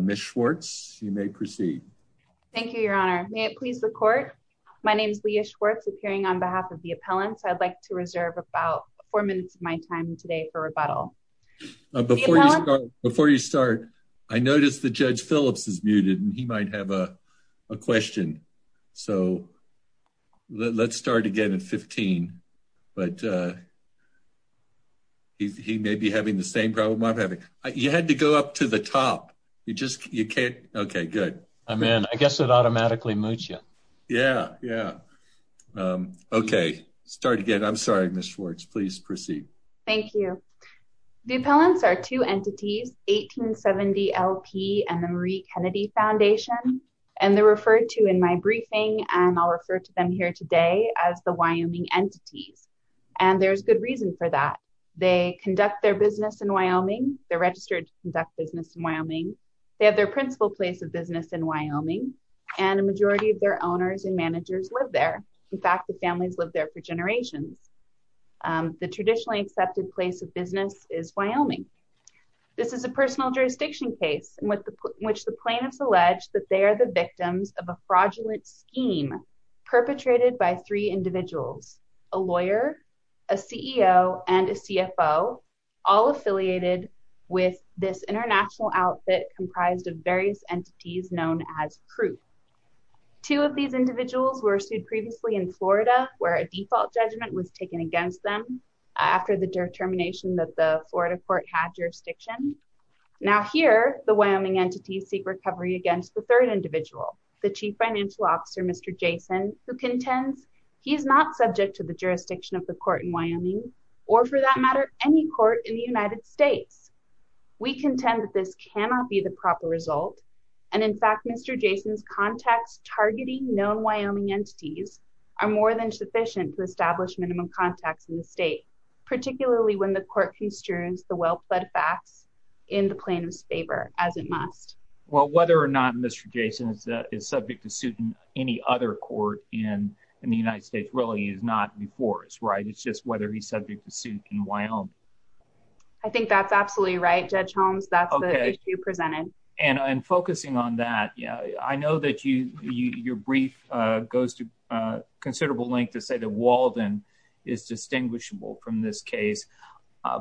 Miss Schwartz. You may proceed. Thank you, Your Honor. May it please the court. My name's Leah Schwartz appearing on behalf of the appellants. I'd like to reserve about four minutes of my time today for rebuttal. Before you start, I noticed the judge Phillips is muted and he might have a question. So let's start again at 15. But, uh, I'm going to go ahead and start with the question. He may be having the same problem I'm having. You had to go up to the top. You just you can't. Okay, good. I'm in. I guess it automatically moves you. Yeah, yeah. Okay. Start again. I'm sorry. Miss Schwartz, please proceed. Thank you. The appellants are two entities, Eighteen Seventy LP and the Marie Kennedy Foundation, and they're referred to in my briefing, and I'll refer to them here today as the Wyoming entities. And there's good reason for that. They conduct their business in Wyoming. They're registered to conduct business in Wyoming. They have their principal place of business in Wyoming, and a majority of their owners and managers live there. In fact, the families live there for generations. The traditionally accepted place of business is Wyoming. This is a personal jurisdiction case in which the plaintiffs allege that they are the victims of a fraudulent scheme perpetrated by three individuals, a lawyer, a CEO and a CFO, all affiliated with this international outfit comprised of various entities known as crew. Two of these individuals were sued previously in Florida, where a default judgment was taken against them after the determination that the Florida court had jurisdiction. Now here, the Wyoming entities seek recovery against the third individual, the chief financial officer, Mr. Jason, who contends he is not subject to the jurisdiction of the court in Wyoming, or for that matter, any court in the United States. We contend that this cannot be the proper result, and in fact, Mr. Jason's contacts targeting known Wyoming entities are more than sufficient to establish minimum contacts in the state, particularly when the court construes the well-pleaded facts in the plaintiff's favor, as it must. Well, whether or not Mr. Jason is subject to suit in any other court in the United States really is not before us, right? It's just whether he's subject to suit in Wyoming. I think that's absolutely right, Judge Holmes. That's the issue presented. And I'm focusing on that. I know that your brief goes to considerable length to say that Walden is distinguishable from this case,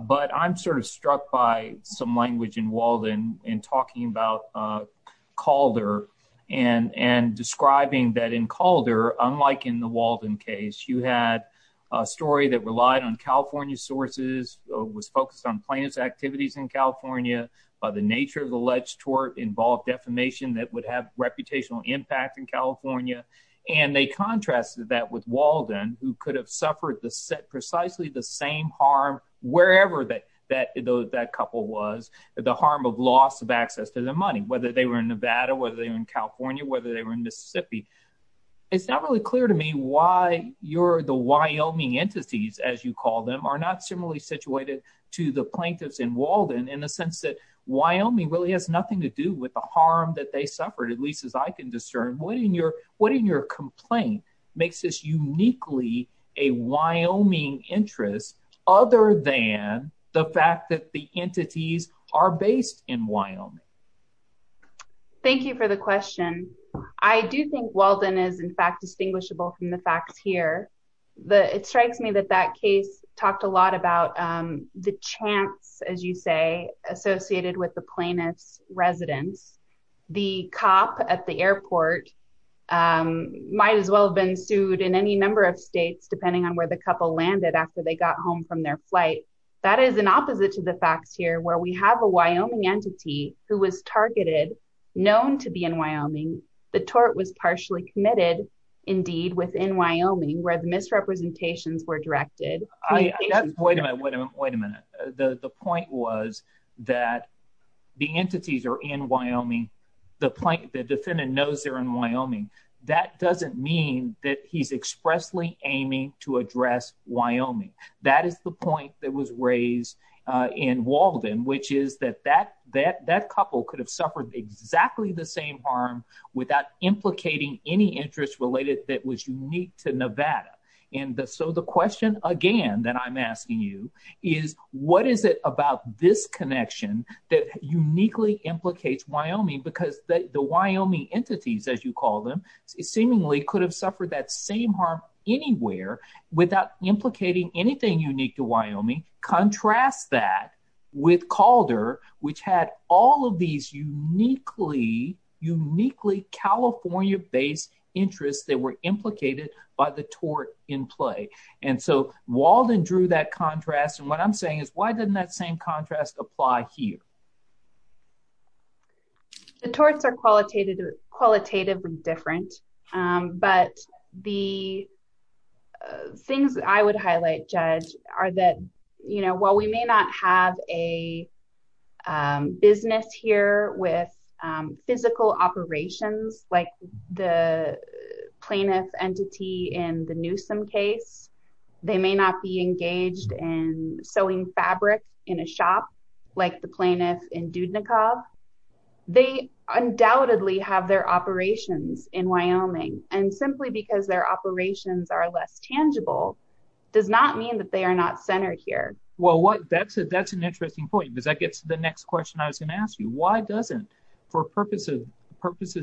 but I'm sort of struck by some language in Walden in talking about Calder and describing that in Calder, unlike in the Walden case, you had a story that relied on California sources, was focused on plaintiff's activities in California, the nature of the alleged tort involved defamation that would have reputational impact in California. And they contrasted that with Walden, who could have suffered precisely the same harm wherever that couple was, the harm of loss of access to their money, whether they were in Nevada, whether they were in California, whether they were in Mississippi. It's not really clear to me why the Wyoming entities, as you call them, are not similarly situated to the plaintiffs in Walden in the sense that Wyoming really has nothing to do with the harm that they suffered, at least as I can discern. What in your complaint makes this uniquely a Wyoming interest other than the fact that the entities are based in Wyoming? Thank you for the question. I do think Walden is in fact distinguishable from the facts here. It strikes me that that case talked a lot about the chance, as you say, associated with the plaintiff's residence. The cop at the airport might as well have been sued in any number of states, depending on where the couple landed after they got home from their flight. That is an opposite to the facts here, where we have a Wyoming entity who was targeted, known to be in Wyoming. The tort was partially committed, indeed, within Wyoming, where the misrepresentations were directed. Wait a minute. The point was that the entities are in Wyoming. The defendant knows they're in Wyoming. That doesn't mean that he's expressly aiming to address Wyoming. That is the point that was raised in Walden, which is that that couple could have suffered exactly the same harm without implicating any interest related that was unique to Nevada. The question again that I'm asking you is, what is it about this connection that uniquely implicates Wyoming? The Wyoming entities, as you call them, seemingly could have suffered that same harm anywhere without implicating anything unique to Wyoming. Contrast that with Calder, which had all of these uniquely California-based interests that were implicated by the tort in play. Walden drew that contrast. What I'm saying is, why didn't that same contrast apply here? The torts are qualitatively different, but the things that I would highlight, Judge, are that while we may not have a business here with physical operations, like the plaintiff entity in the Newsom case, they may not be engaged in sewing fabric in a shop like the plaintiff in Dudnikov, they undoubtedly have their operations in Wyoming. Simply because their operations are less tangible does not mean that they are not centered here. Well, that's an interesting point, because that gets to the next question I was going to ask you. Why doesn't, for purposes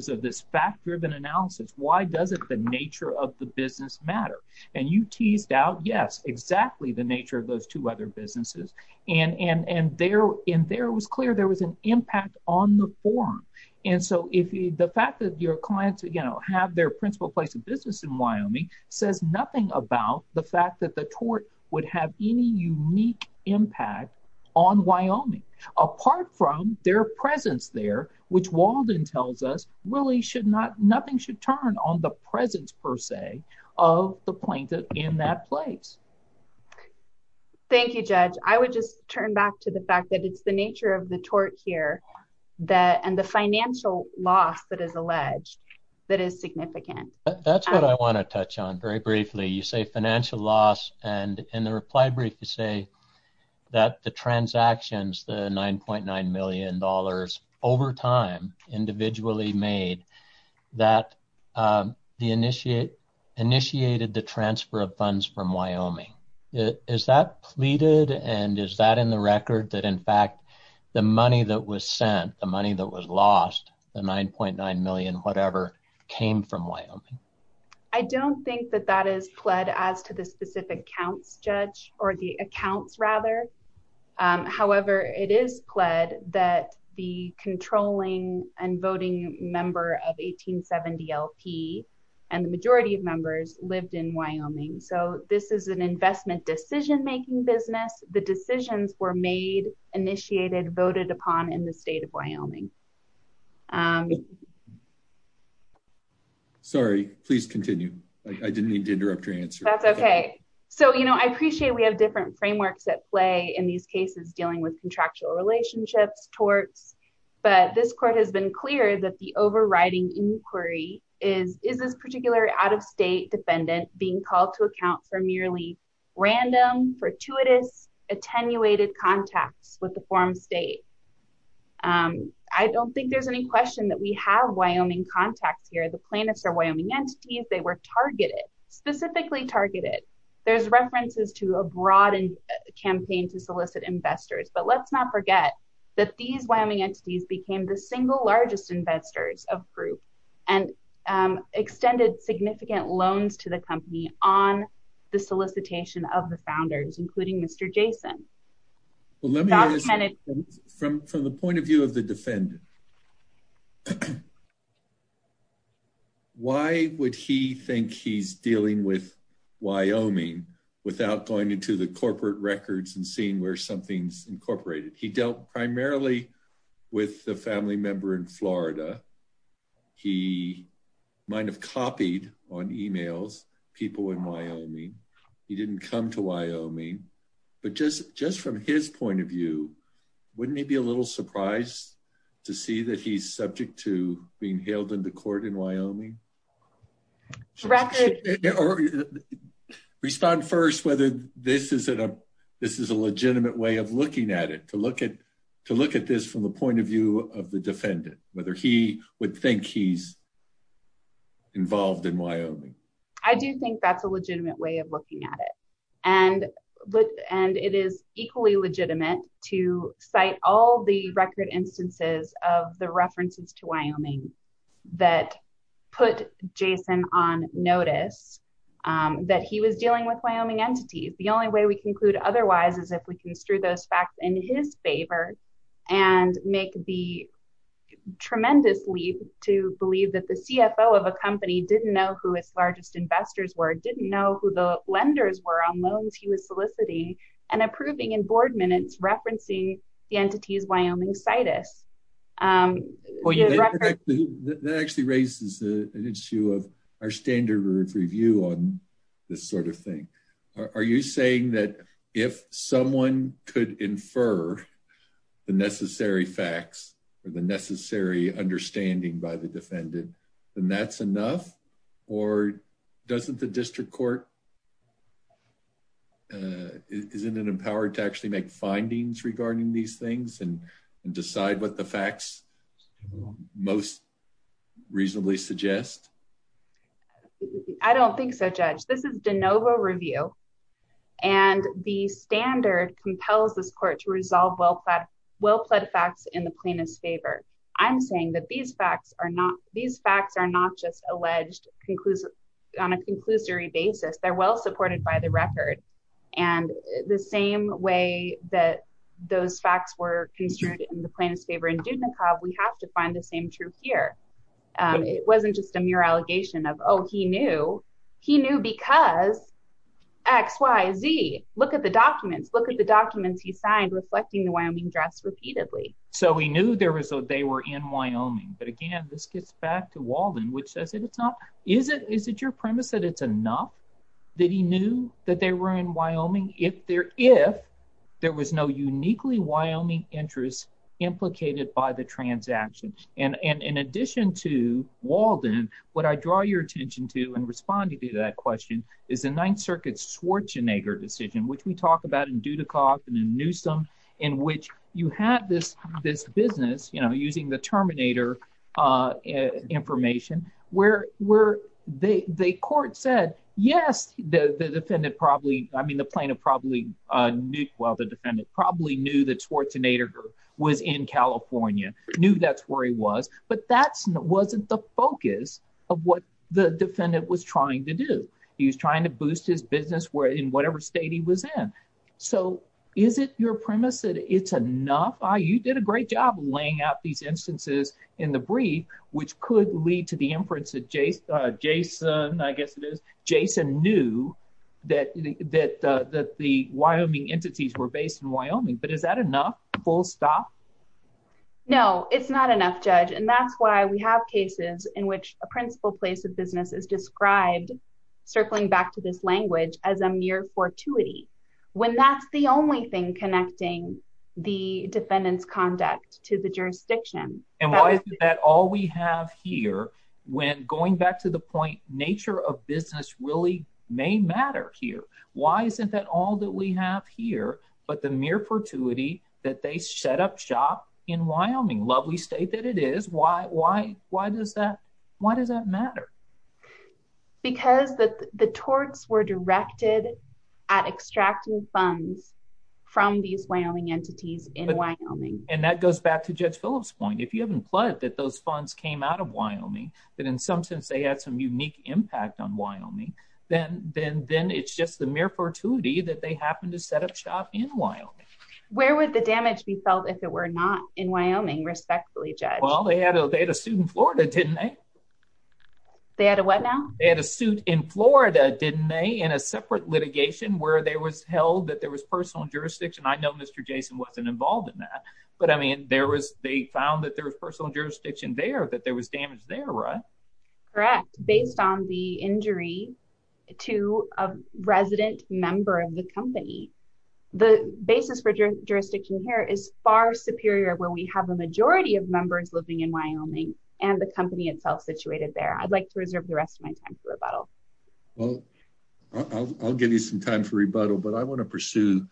of this fact-driven analysis, why doesn't the nature of the business matter? And you teased out, yes, exactly the nature of those two other businesses, and there it was clear there was an impact on the forum. And so the fact that your clients have their principal place of business in Wyoming says nothing about the fact that the tort would have any unique impact on Wyoming. Apart from their presence there, which Walden tells us really should not, nothing should turn on the presence, per se, of the plaintiff in that place. Thank you, Judge. I would just turn back to the fact that it's the nature of the tort here, and the financial loss that is alleged, that is significant. That's what I want to touch on very briefly. You say financial loss, and in the reply brief you say that the transactions, the $9.9 million, over time, individually made, that initiated the transfer of funds from Wyoming. Is that pleaded, and is that in the record, that in fact the money that was sent, the money that was lost, the $9.9 million, whatever, came from Wyoming? I don't think that that is pled as to the specific counts, Judge, or the accounts, rather. However, it is pled that the controlling and voting member of 1870 LP, and the majority of members, lived in Wyoming. So this is an investment decision-making business. The decisions were made, initiated, voted upon in the state of Wyoming. Sorry, please continue. I didn't mean to interrupt your answer. That's okay. So, you know, I appreciate we have different frameworks at play in these cases dealing with contractual relationships, torts, but this court has been clear that the overriding inquiry is, is this particular out-of-state defendant being called to account for merely random, fortuitous, attenuated contacts with the form state? I don't think there's any question that we have Wyoming contacts here. The plaintiffs are Wyoming entities. They were targeted, specifically targeted. There's references to a broad campaign to solicit investors, but let's not forget that these Wyoming entities became the single largest investors of Group, and extended significant loans to the company on the solicitation of the founders, including Mr. Jason. Well, let me ask from the point of view of the defendant. Why would he think he's dealing with Wyoming without going into the corporate records and seeing where something's incorporated? He dealt primarily with the family member in Florida. He might have copied on emails, people in Wyoming. He didn't come to Wyoming. But just, just from his point of view, wouldn't he be a little surprised to see that he's subject to being hailed into court in Wyoming? Or respond first, whether this is a, this is a legitimate way of looking at it, to look at, to look at this from the point of view of the defendant, whether he would think he's involved in Wyoming. I do think that's a legitimate way of looking at it. And, and it is equally legitimate to cite all the record instances of the references to Wyoming that put Jason on notice that he was dealing with Wyoming entities. The only way we conclude otherwise is if we construe those facts in his favor and make the tremendous leap to believe that the CFO of a company didn't know who its largest investors were, didn't know who the lenders were on loans he was soliciting, and approving in board minutes referencing the entities Wyoming Citus. That actually raises an issue of our standard of review on this sort of thing. Are you saying that if someone could infer the necessary facts or the necessary understanding by the defendant, then that's enough? Or doesn't the district court, isn't it empowered to actually make findings regarding these things and decide what the facts most reasonably suggest? I don't think so, Judge. This is de novo review. And the standard compels this court to resolve well-plaid facts in the plaintiff's favor. I'm saying that these facts are not, these facts are not just alleged on a conclusory basis. They're well-supported by the record. And the same way that those facts were construed in the plaintiff's favor in Dudnikov, we have to find the same truth here. It wasn't just a mere allegation of, oh, he knew. He knew because X, Y, Z. Look at the documents. Look at the documents he signed reflecting the Wyoming dress repeatedly. So he knew they were in Wyoming. But again, this gets back to Walden, which says, is it your premise that it's enough that he knew that they were in Wyoming if there was no uniquely Wyoming interest implicated by the transaction? And in addition to Walden, what I draw your attention to in responding to that question is the Ninth Circuit Schwarzenegger decision, which we talk about in Dudnikov and in Newsom, in which you had this business, you know, using the Terminator information, where the court said, yes, the defendant probably, I mean, the plaintiff probably knew, well, the defendant probably knew that Schwarzenegger was in California, knew that's where he was, but that wasn't the focus of what the defendant was trying to do. He was trying to boost his business in whatever state he was in. So is it your premise that it's enough? You did a great job laying out these instances in the brief, which could lead to the inference that Jason, I guess it is, Jason knew that the Wyoming entities were based in Wyoming, but is that enough? Full stop? No, it's not enough, Judge. And that's why we have cases in which a principal place of business is described, circling back to this language, as a mere fortuity, when that's the only thing connecting the defendant's conduct to the jurisdiction. And why is that all we have here when, going back to the point, nature of business really may matter here. Why isn't that all that we have here, but the mere fortuity that they set up shop in Wyoming, lovely state that it is, why, why, why does that, why does that matter? Because the torts were directed at extracting funds from these Wyoming entities in Wyoming. And that goes back to Judge Phillips' point. If you haven't pledged that those funds came out of Wyoming, that in some sense they had some unique impact on Wyoming, then it's just the mere fortuity that they happened to set up shop in Wyoming. Where would the damage be felt if it were not in Wyoming, respectfully, Judge? Well, they had a suit in Florida, didn't they? They had a what now? They had a suit in Florida, didn't they, in a separate litigation where there was held that there was personal jurisdiction. I know Mr. Jason wasn't involved in that. But I mean, there was, they found that there was personal jurisdiction there, that there was damage there, right? Correct. Based on the injury to a resident member of the company. The basis for jurisdiction here is far superior when we have a majority of members living in Wyoming, and the company itself situated there. I'd like to reserve the rest of my time for rebuttal. Well, I'll give you some time for rebuttal, but I want to pursue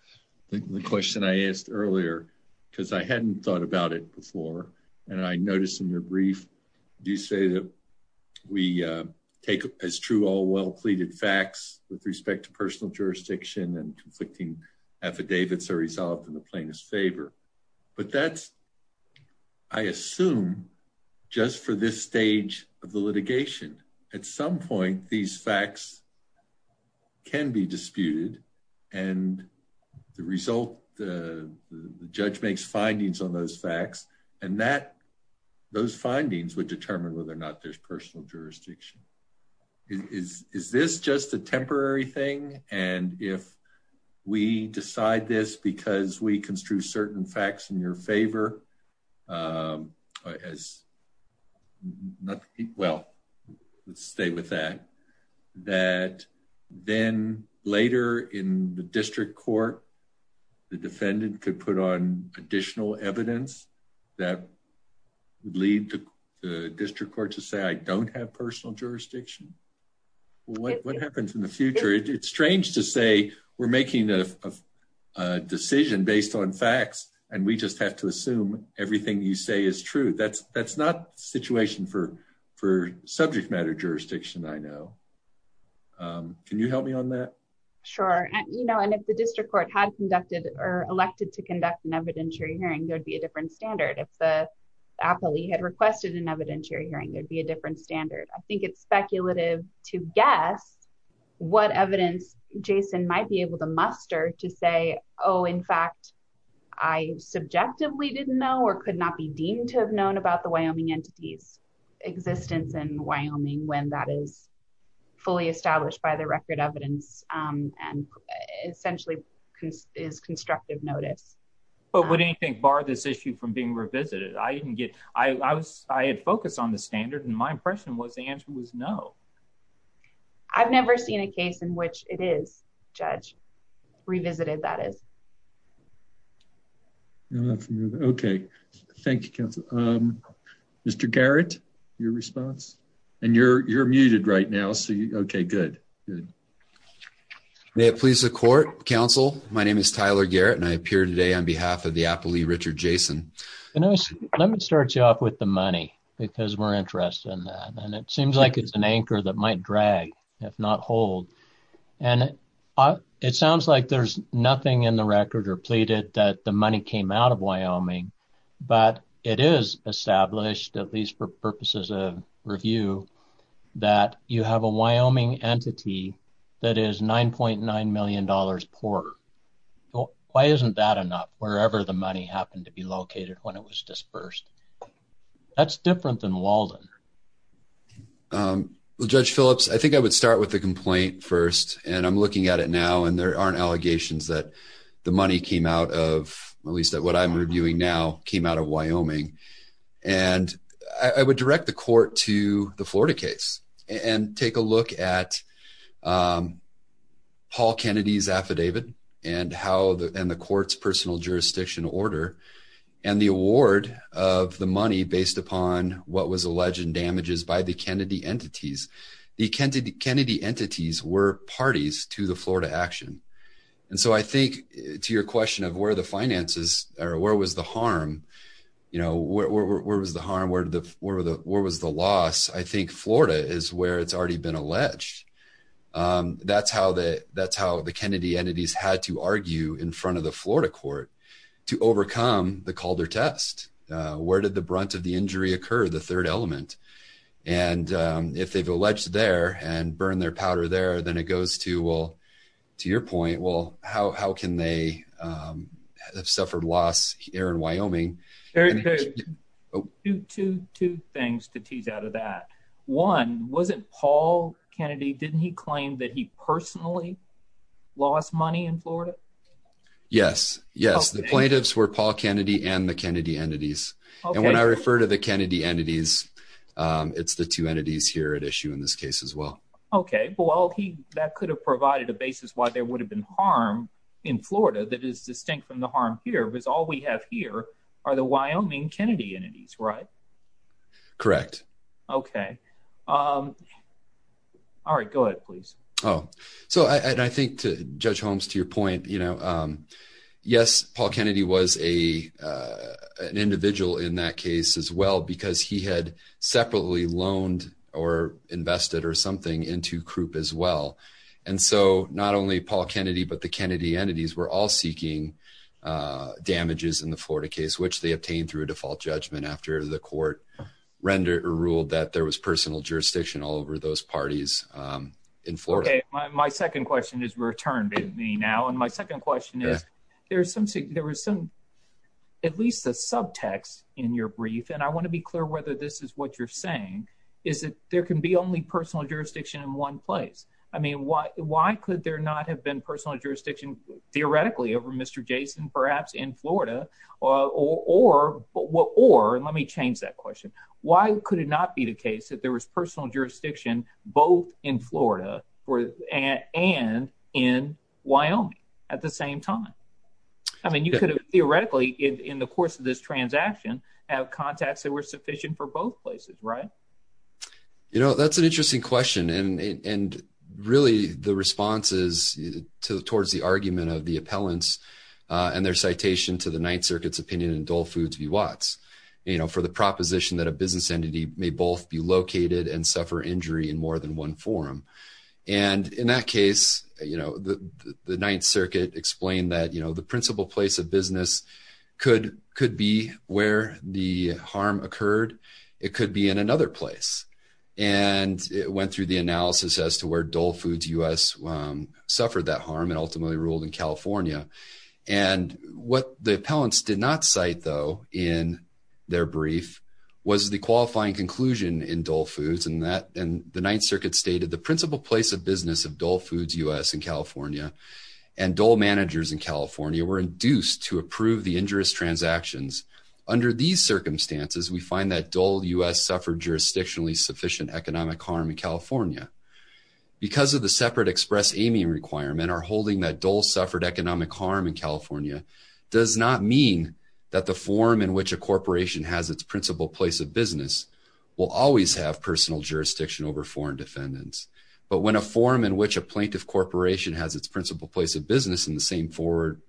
the question I asked earlier, because I hadn't thought about it before. And I noticed in your brief, you say that we take as true all well pleaded facts with respect to personal jurisdiction and conflicting affidavits are resolved in the plainest favor. But that's, I assume, just for this stage of the litigation. At some point, these facts can be disputed. And the result, the judge makes findings on those facts, and that those findings would determine whether or not there's personal jurisdiction. Is this just a temporary thing? And if we decide this because we construe certain facts in your favor, as not, well, let's stay with that, that then later in the district court, the defendant could put on additional evidence that would lead to the district court to say, I don't have personal jurisdiction. What happens in the future? It's strange to say we're making a decision based on facts, and we just have to assume everything you say is true. That's not the situation for subject matter jurisdiction, I know. Can you help me on that? Sure. You know, and if the district court had conducted or elected to conduct an evidentiary hearing, there'd be a different standard. If the appellee had requested an evidentiary hearing, there'd be a different standard. I think it's speculative to guess what evidence Jason might be able to muster to say, oh, in fact, I subjectively didn't know or could not be deemed to have known about the Wyoming entity's existence in Wyoming when that is fully established by the record evidence. And essentially is constructive notice. But would anything bar this issue from being revisited? I didn't get I was I had focused on the standard and my impression was the answer was no. I've never seen a case in which it is judge revisited that is. Okay, thank you. Mr Garrett, your response, and you're you're muted right now so you okay good. May it please the court counsel. My name is Tyler Garrett and I appear today on behalf of the appellee Richard Jason. Let me start you off with the money, because we're interested in that and it seems like it's an anchor that might drag, if not hold. And it sounds like there's nothing in the record or pleaded that the money came out of Wyoming, but it is established at least for purposes of review that you have a Wyoming entity. That is $9.9 million poor. Why isn't that enough wherever the money happened to be located when it was dispersed. That's different than Walden. Judge Phillips, I think I would start with the complaint first, and I'm looking at it now and there aren't allegations that the money came out of, at least at what I'm reviewing now came out of Wyoming. And I would direct the court to the Florida case, and take a look at Paul Kennedy's affidavit, and how the end the court's personal jurisdiction order, and the award of the money based upon what was alleged and damages by the Kennedy entities, the Kennedy Kennedy entities were parties to the Florida action. And so I think, to your question of where the finances are where was the harm. You know where was the harm where the, where were the, where was the loss I think Florida is where it's already been alleged. That's how the, that's how the Kennedy entities had to argue in front of the Florida court to overcome the Calder test. Where did the brunt of the injury occur the third element. And if they've alleged there and burn their powder there then it goes to well. To your point, well, how can they have suffered loss here in Wyoming. Oh, two, two things to tease out of that one wasn't Paul Kennedy didn't he claim that he personally lost money in Florida. Yes, yes the plaintiffs were Paul Kennedy and the Kennedy entities. And when I refer to the Kennedy entities. It's the two entities here at issue in this case as well. Okay, well he, that could have provided a basis why there would have been harm in Florida that is distinct from the harm here was all we have here are the Wyoming Kennedy entities right. Correct. Okay. All right, go ahead, please. Oh, so I think to judge homes to your point, you know, yes, Paul Kennedy was a, an individual in that case as well because he had separately loaned or invested or something into group as well. And so, not only Paul Kennedy but the Kennedy entities were all seeking damages in the Florida case which they obtained through a default judgment after the court rendered or ruled that there was personal jurisdiction all over those parties in Florida. Okay, my second question is returned to me now and my second question is, there's some there was some, at least a subtext in your brief and I want to be clear whether this is what you're saying is that there can be only personal jurisdiction in one place. I mean, why, why could there not have been personal jurisdiction, theoretically over Mr. Jason perhaps in Florida, or what or let me change that question. Why could it not be the case that there was personal jurisdiction, both in Florida, and in Wyoming. At the same time, I mean you could have theoretically in the course of this transaction have contacts that were sufficient for both places right. You know, that's an interesting question and really the responses to towards the argument of the appellants, and their citation to the Ninth Circuit's opinion in Dole Foods v. Watts, you know, for the proposition that a business entity may both be located and suffer injury in more than one forum. And in that case, you know, the Ninth Circuit explained that, you know, the principal place of business could could be where the harm occurred. It could be in another place. And it went through the analysis as to where Dole Foods U.S. suffered that harm and ultimately ruled in California. And what the appellants did not cite, though, in their brief was the qualifying conclusion in Dole Foods and that and the Ninth Circuit stated the principal place of business of Dole Foods U.S. in California and Dole managers in California were induced to approve the injurious transactions. Under these circumstances, we find that Dole U.S. suffered jurisdictionally sufficient economic harm in California. Because of the separate express aiming requirement or holding that Dole suffered economic harm in California does not mean that the forum in which a corporation has its principal place of business will always have personal jurisdiction over foreign defendants. But when a forum in which a plaintiff corporation has its principal place of business in the same forum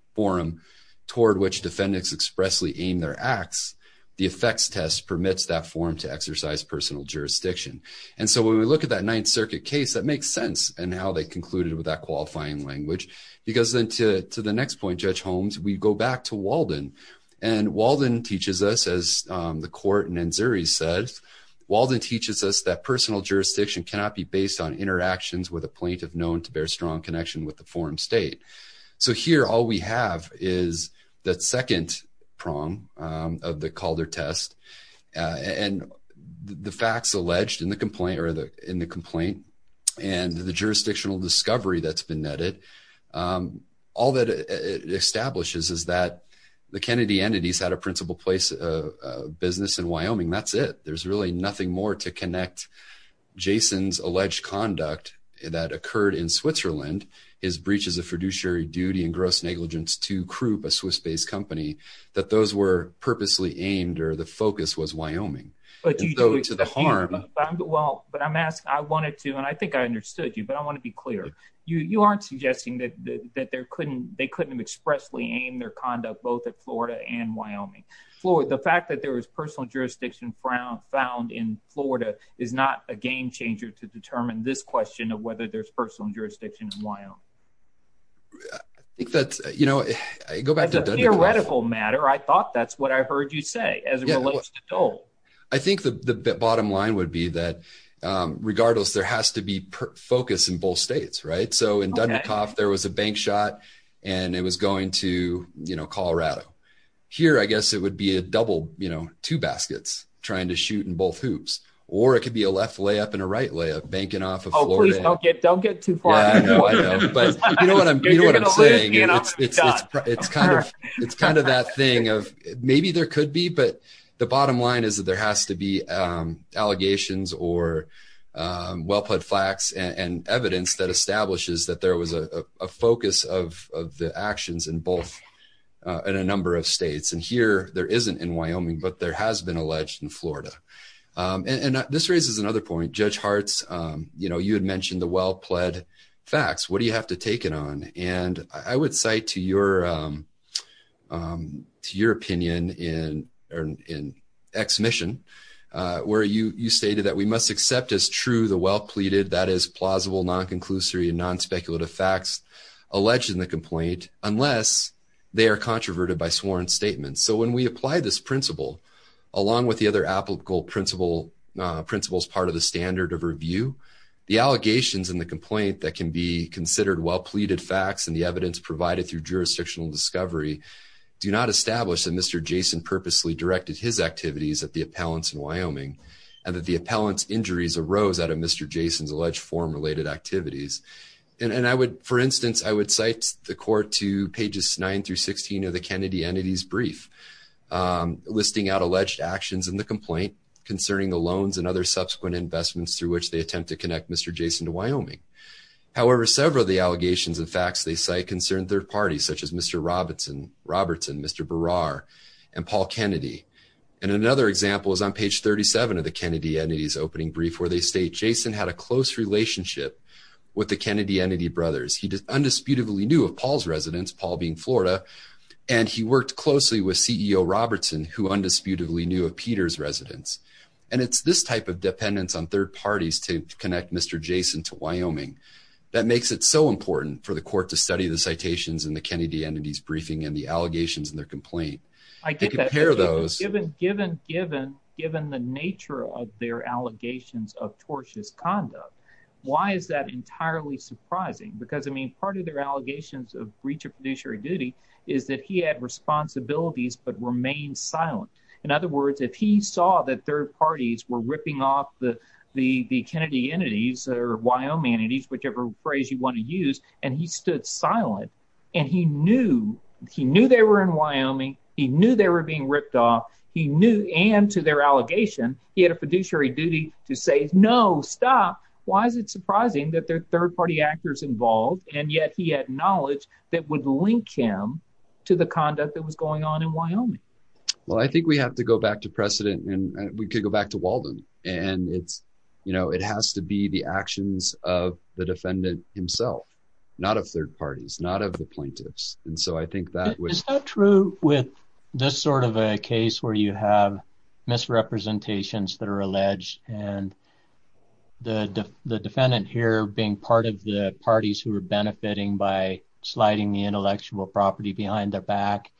toward which defendants expressly aim their acts, the effects test permits that forum to exercise personal jurisdiction. And so when we look at that Ninth Circuit case, that makes sense. And how they concluded with that qualifying language, because then to the next point, Judge Holmes, we go back to Walden. And Walden teaches us, as the court in NZERI says, Walden teaches us that personal jurisdiction cannot be based on interactions with a plaintiff known to bear strong connection with the forum state. So here, all we have is that second prong of the Calder test and the facts alleged in the complaint and the jurisdictional discovery that's been netted. All that it establishes is that the Kennedy entities had a principal place of business in Wyoming. That's it. There's really nothing more to connect Jason's alleged conduct that occurred in Switzerland, his breaches of fiduciary duty and gross negligence to Krupp, a Swiss-based company, that those were purposely aimed or the focus was Wyoming. But I'm asking, I wanted to, and I think I understood you, but I want to be clear. You aren't suggesting that they couldn't have expressly aimed their conduct both at Florida and Wyoming. The fact that there was personal jurisdiction found in Florida is not a game changer to determine this question of whether there's personal jurisdiction in Wyoming. I think that's, you know, I go back to the theoretical matter. I thought that's what I heard you say, as it relates to Dole. I think the bottom line would be that, regardless, there has to be focus in both states, right? So in Dundekoff, there was a bank shot, and it was going to Colorado. Here, I guess it would be a double, you know, two baskets trying to shoot in both hoops, or it could be a left layup and a right layup, banking off of Florida. Don't get too far. You know what I'm saying? It's kind of that thing of maybe there could be, but the bottom line is that there has to be allegations or well-put facts and evidence that establishes that there was a focus of the actions in both, in a number of states. And here, there isn't in Wyoming, but there has been alleged in Florida. And this raises another point. Judge Hartz, you know, you had mentioned the well-pled facts. What do you have to take it on? And I would cite to your opinion in Ex Mission, where you stated that we must accept as true the well-pleaded, that is, plausible, non-conclusory, and non-speculative facts alleged in the complaint, unless they are controverted by sworn statements. So, when we apply this principle, along with the other applicable principles part of the standard of review, the allegations in the complaint that can be considered well-pleaded facts and the evidence provided through jurisdictional discovery do not establish that Mr. Jason purposely directed his activities at the appellants in Wyoming and that the appellant's injuries arose out of Mr. Jason's alleged form-related activities. And I would, for instance, I would cite the court to pages 9 through 16 of the Kennedy entity's brief, listing out alleged actions in the complaint concerning the loans and other subsequent investments through which they attempt to connect Mr. Jason to Wyoming. However, several of the allegations and facts they cite concern third parties, such as Mr. Robertson, Mr. Berrar, and Paul Kennedy. And another example is on page 37 of the Kennedy entity's opening brief, where they state Jason had a close relationship with the Kennedy entity brothers. He undisputedly knew of Paul's residence, Paul being Florida, and he worked closely with CEO Robertson, who undisputedly knew of Peter's residence. And it's this type of dependence on third parties to connect Mr. Jason to Wyoming that makes it so important for the court to study the citations in the Kennedy entity's briefing and the allegations in their complaint. I get that. Given the nature of their allegations of tortious conduct, why is that entirely surprising? Because, I mean, part of their allegations of breach of fiduciary duty is that he had responsibilities but remained silent. In other words, if he saw that third parties were ripping off the Kennedy entities or Wyoming entities, whichever phrase you want to use, and he stood silent, and he knew they were in Wyoming, he knew they were being ripped off, he knew – and to their allegation, he had a fiduciary duty to say, no, stop. Why is it surprising that there are third party actors involved, and yet he had knowledge that would link him to the conduct that was going on in Wyoming? Well, I think we have to go back to precedent, and we could go back to Walden. And it has to be the actions of the defendant himself, not of third parties, not of the plaintiffs. And so I think that would – misrepresentations that are alleged, and the defendant here being part of the parties who are benefiting by sliding the intellectual property behind their back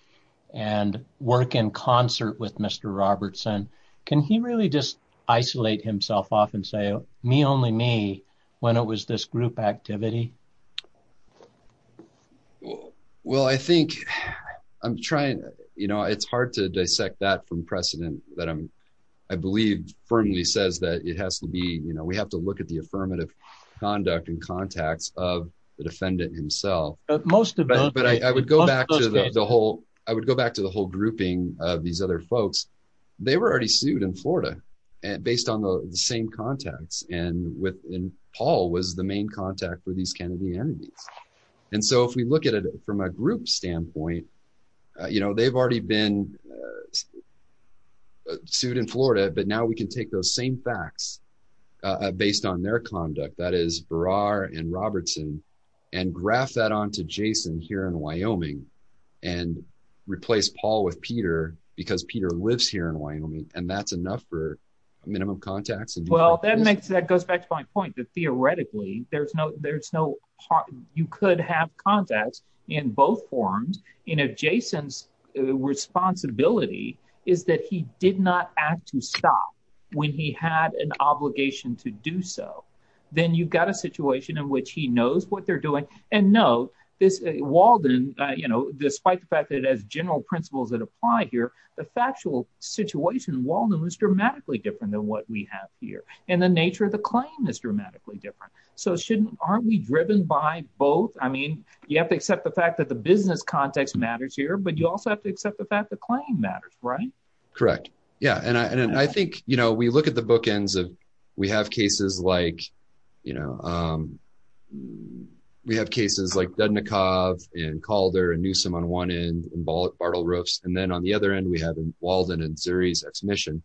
and work in concert with Mr. Robertson, can he really just isolate himself off and say, me, only me, when it was this group activity? Well, I think I'm trying – it's hard to dissect that from precedent that I believe firmly says that it has to be – we have to look at the affirmative conduct and contacts of the defendant himself. But I would go back to the whole grouping of these other folks. They were already sued in Florida based on the same contacts, and Paul was the main contact with these Kennedy enemies. And so if we look at it from a group standpoint, they've already been sued in Florida, but now we can take those same facts based on their conduct – that is, Burrard and Robertson – and graph that onto Jason here in Wyoming and replace Paul with Peter because Peter lives here in Wyoming, and that's enough for minimum contacts. Well, that makes – that goes back to my point that theoretically there's no – you could have contacts in both forms, and if Jason's responsibility is that he did not act to stop when he had an obligation to do so, then you've got a situation in which he knows what they're doing. And no, this – Walden, despite the fact that it has general principles that apply here, the factual situation in Walden was dramatically different than what we have here, and the nature of the claim is dramatically different. So shouldn't – aren't we driven by both? I mean, you have to accept the fact that the business context matters here, but you also have to accept the fact the claim matters, right? Correct. Yeah, and I think, you know, we look at the bookends of – we have cases like, you know – we have cases like Dudnikov and Calder and Newsom on one end and Bartle Roofs, and then on the other end we have Walden and Zuri's ex-mission.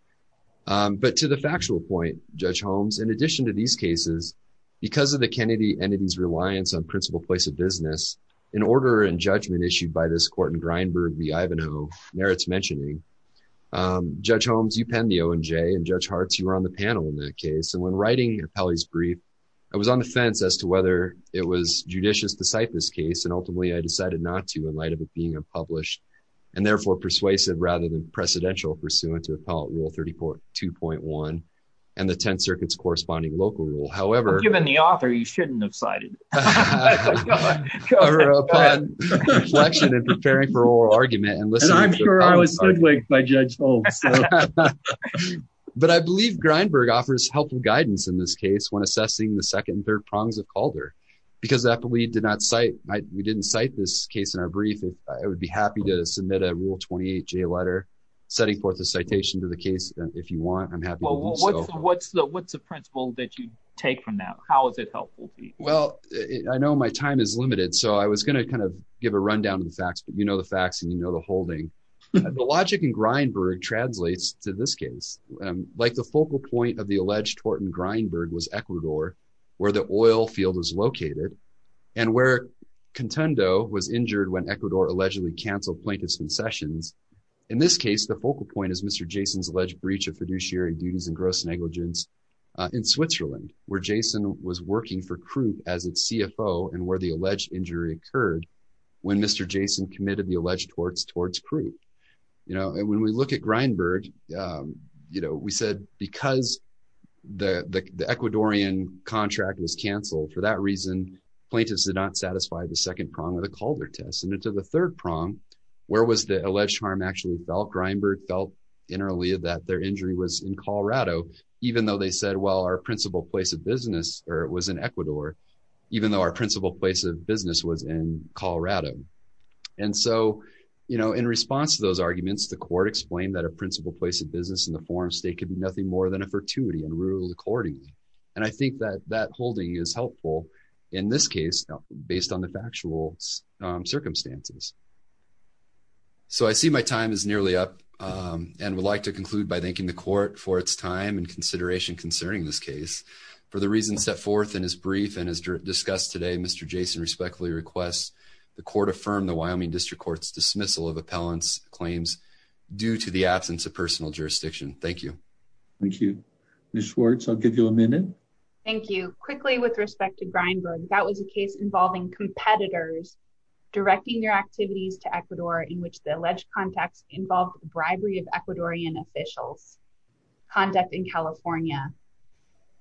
But to the factual point, Judge Holmes, in addition to these cases, because of the Kennedy entity's reliance on principal place of business, in order and judgment issued by this court in Grinberg v. Ivanhoe, merits mentioning, Judge Holmes, you penned the O&J, and Judge Hartz, you were on the panel in that case. And when writing Appellee's Brief, I was on the fence as to whether it was judicious to cite this case, and ultimately I decided not to in light of it being unpublished and therefore persuasive rather than precedential pursuant to Appellate Rule 32.1 and the Tenth Circuit's corresponding local rule. But given the author, you shouldn't have cited it.… upon reflection and preparing for oral argument. And I'm sure I was stood with by Judge Holmes. But I believe Grinberg offers helpful guidance in this case when assessing the second and third prongs of Calder because Appellee did not cite – we didn't cite this case in our brief. I would be happy to submit a Rule 28J letter setting forth a citation to the case if you want. I'm happy to do so. What's the principle that you take from that? How is it helpful? Well, I know my time is limited, so I was going to kind of give a rundown of the facts, but you know the facts and you know the holding. The logic in Grinberg translates to this case. Like the focal point of the alleged tort in Grinberg was Ecuador, where the oil field was located, and where Contendo was injured when Ecuador allegedly canceled plaintiff's concessions. In this case, the focal point is Mr. Jason's alleged breach of fiduciary duties and gross negligence in Switzerland, where Jason was working for Croup as its CFO and where the alleged injury occurred when Mr. Jason committed the alleged torts towards Croup. And when we look at Grinberg, we said because the Ecuadorian contract was canceled, for that reason, plaintiffs did not satisfy the second prong of the Calder test. And to the third prong, where was the alleged harm actually felt? Grinberg felt internally that their injury was in Colorado, even though they said, well, our principal place of business was in Ecuador, even though our principal place of business was in Colorado. And so, you know, in response to those arguments, the court explained that a principal place of business in the forum state could be nothing more than a fortuity and ruled accordingly. And I think that that holding is helpful in this case, based on the factual circumstances. So I see my time is nearly up and would like to conclude by thanking the court for its time and consideration concerning this case. For the reasons set forth in his brief and as discussed today, Mr. Jason respectfully requests the court affirm the Wyoming District Court's dismissal of appellant's claims due to the absence of personal jurisdiction. Thank you. Thank you. Ms. Schwartz, I'll give you a minute. Thank you. Quickly, with respect to Grinberg, that was a case involving competitors directing your activities to Ecuador in which the alleged contacts involved bribery of Ecuadorian officials. Contact in California.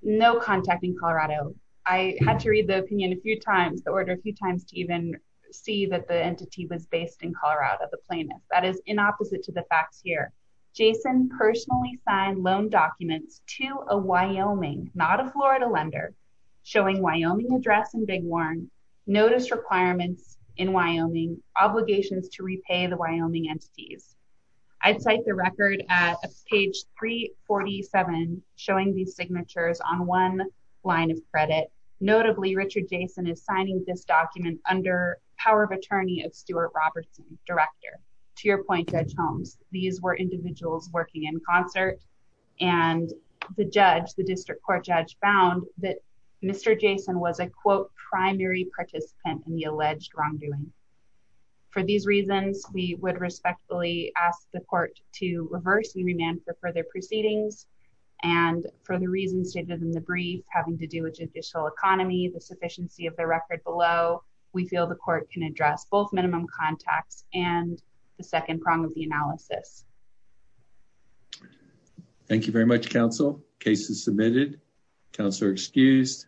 No contact in Colorado. I had to read the opinion a few times, the order a few times to even see that the entity was based in Colorado, the plaintiff. That is in opposite to the facts here. Jason personally signed loan documents to a Wyoming, not a Florida lender, showing Wyoming address in Big Horn, notice requirements in Wyoming, obligations to repay the Wyoming entities. I'd cite the record at page 347, showing the signatures on one line of credit, notably Richard Jason is signing this document under power of attorney of Stuart Robertson, director. To your point Judge Holmes, these were individuals working in concert, and the judge, the district court judge found that Mr. Jason was a quote primary participant in the alleged wrongdoing. For these reasons, we would respectfully ask the court to reverse the remand for further proceedings. And for the reasons stated in the brief having to do with judicial economy the sufficiency of the record below. We feel the court can address both minimum contacts and the second prong of the analysis. Thank you very much, counsel cases submitted counselor excused.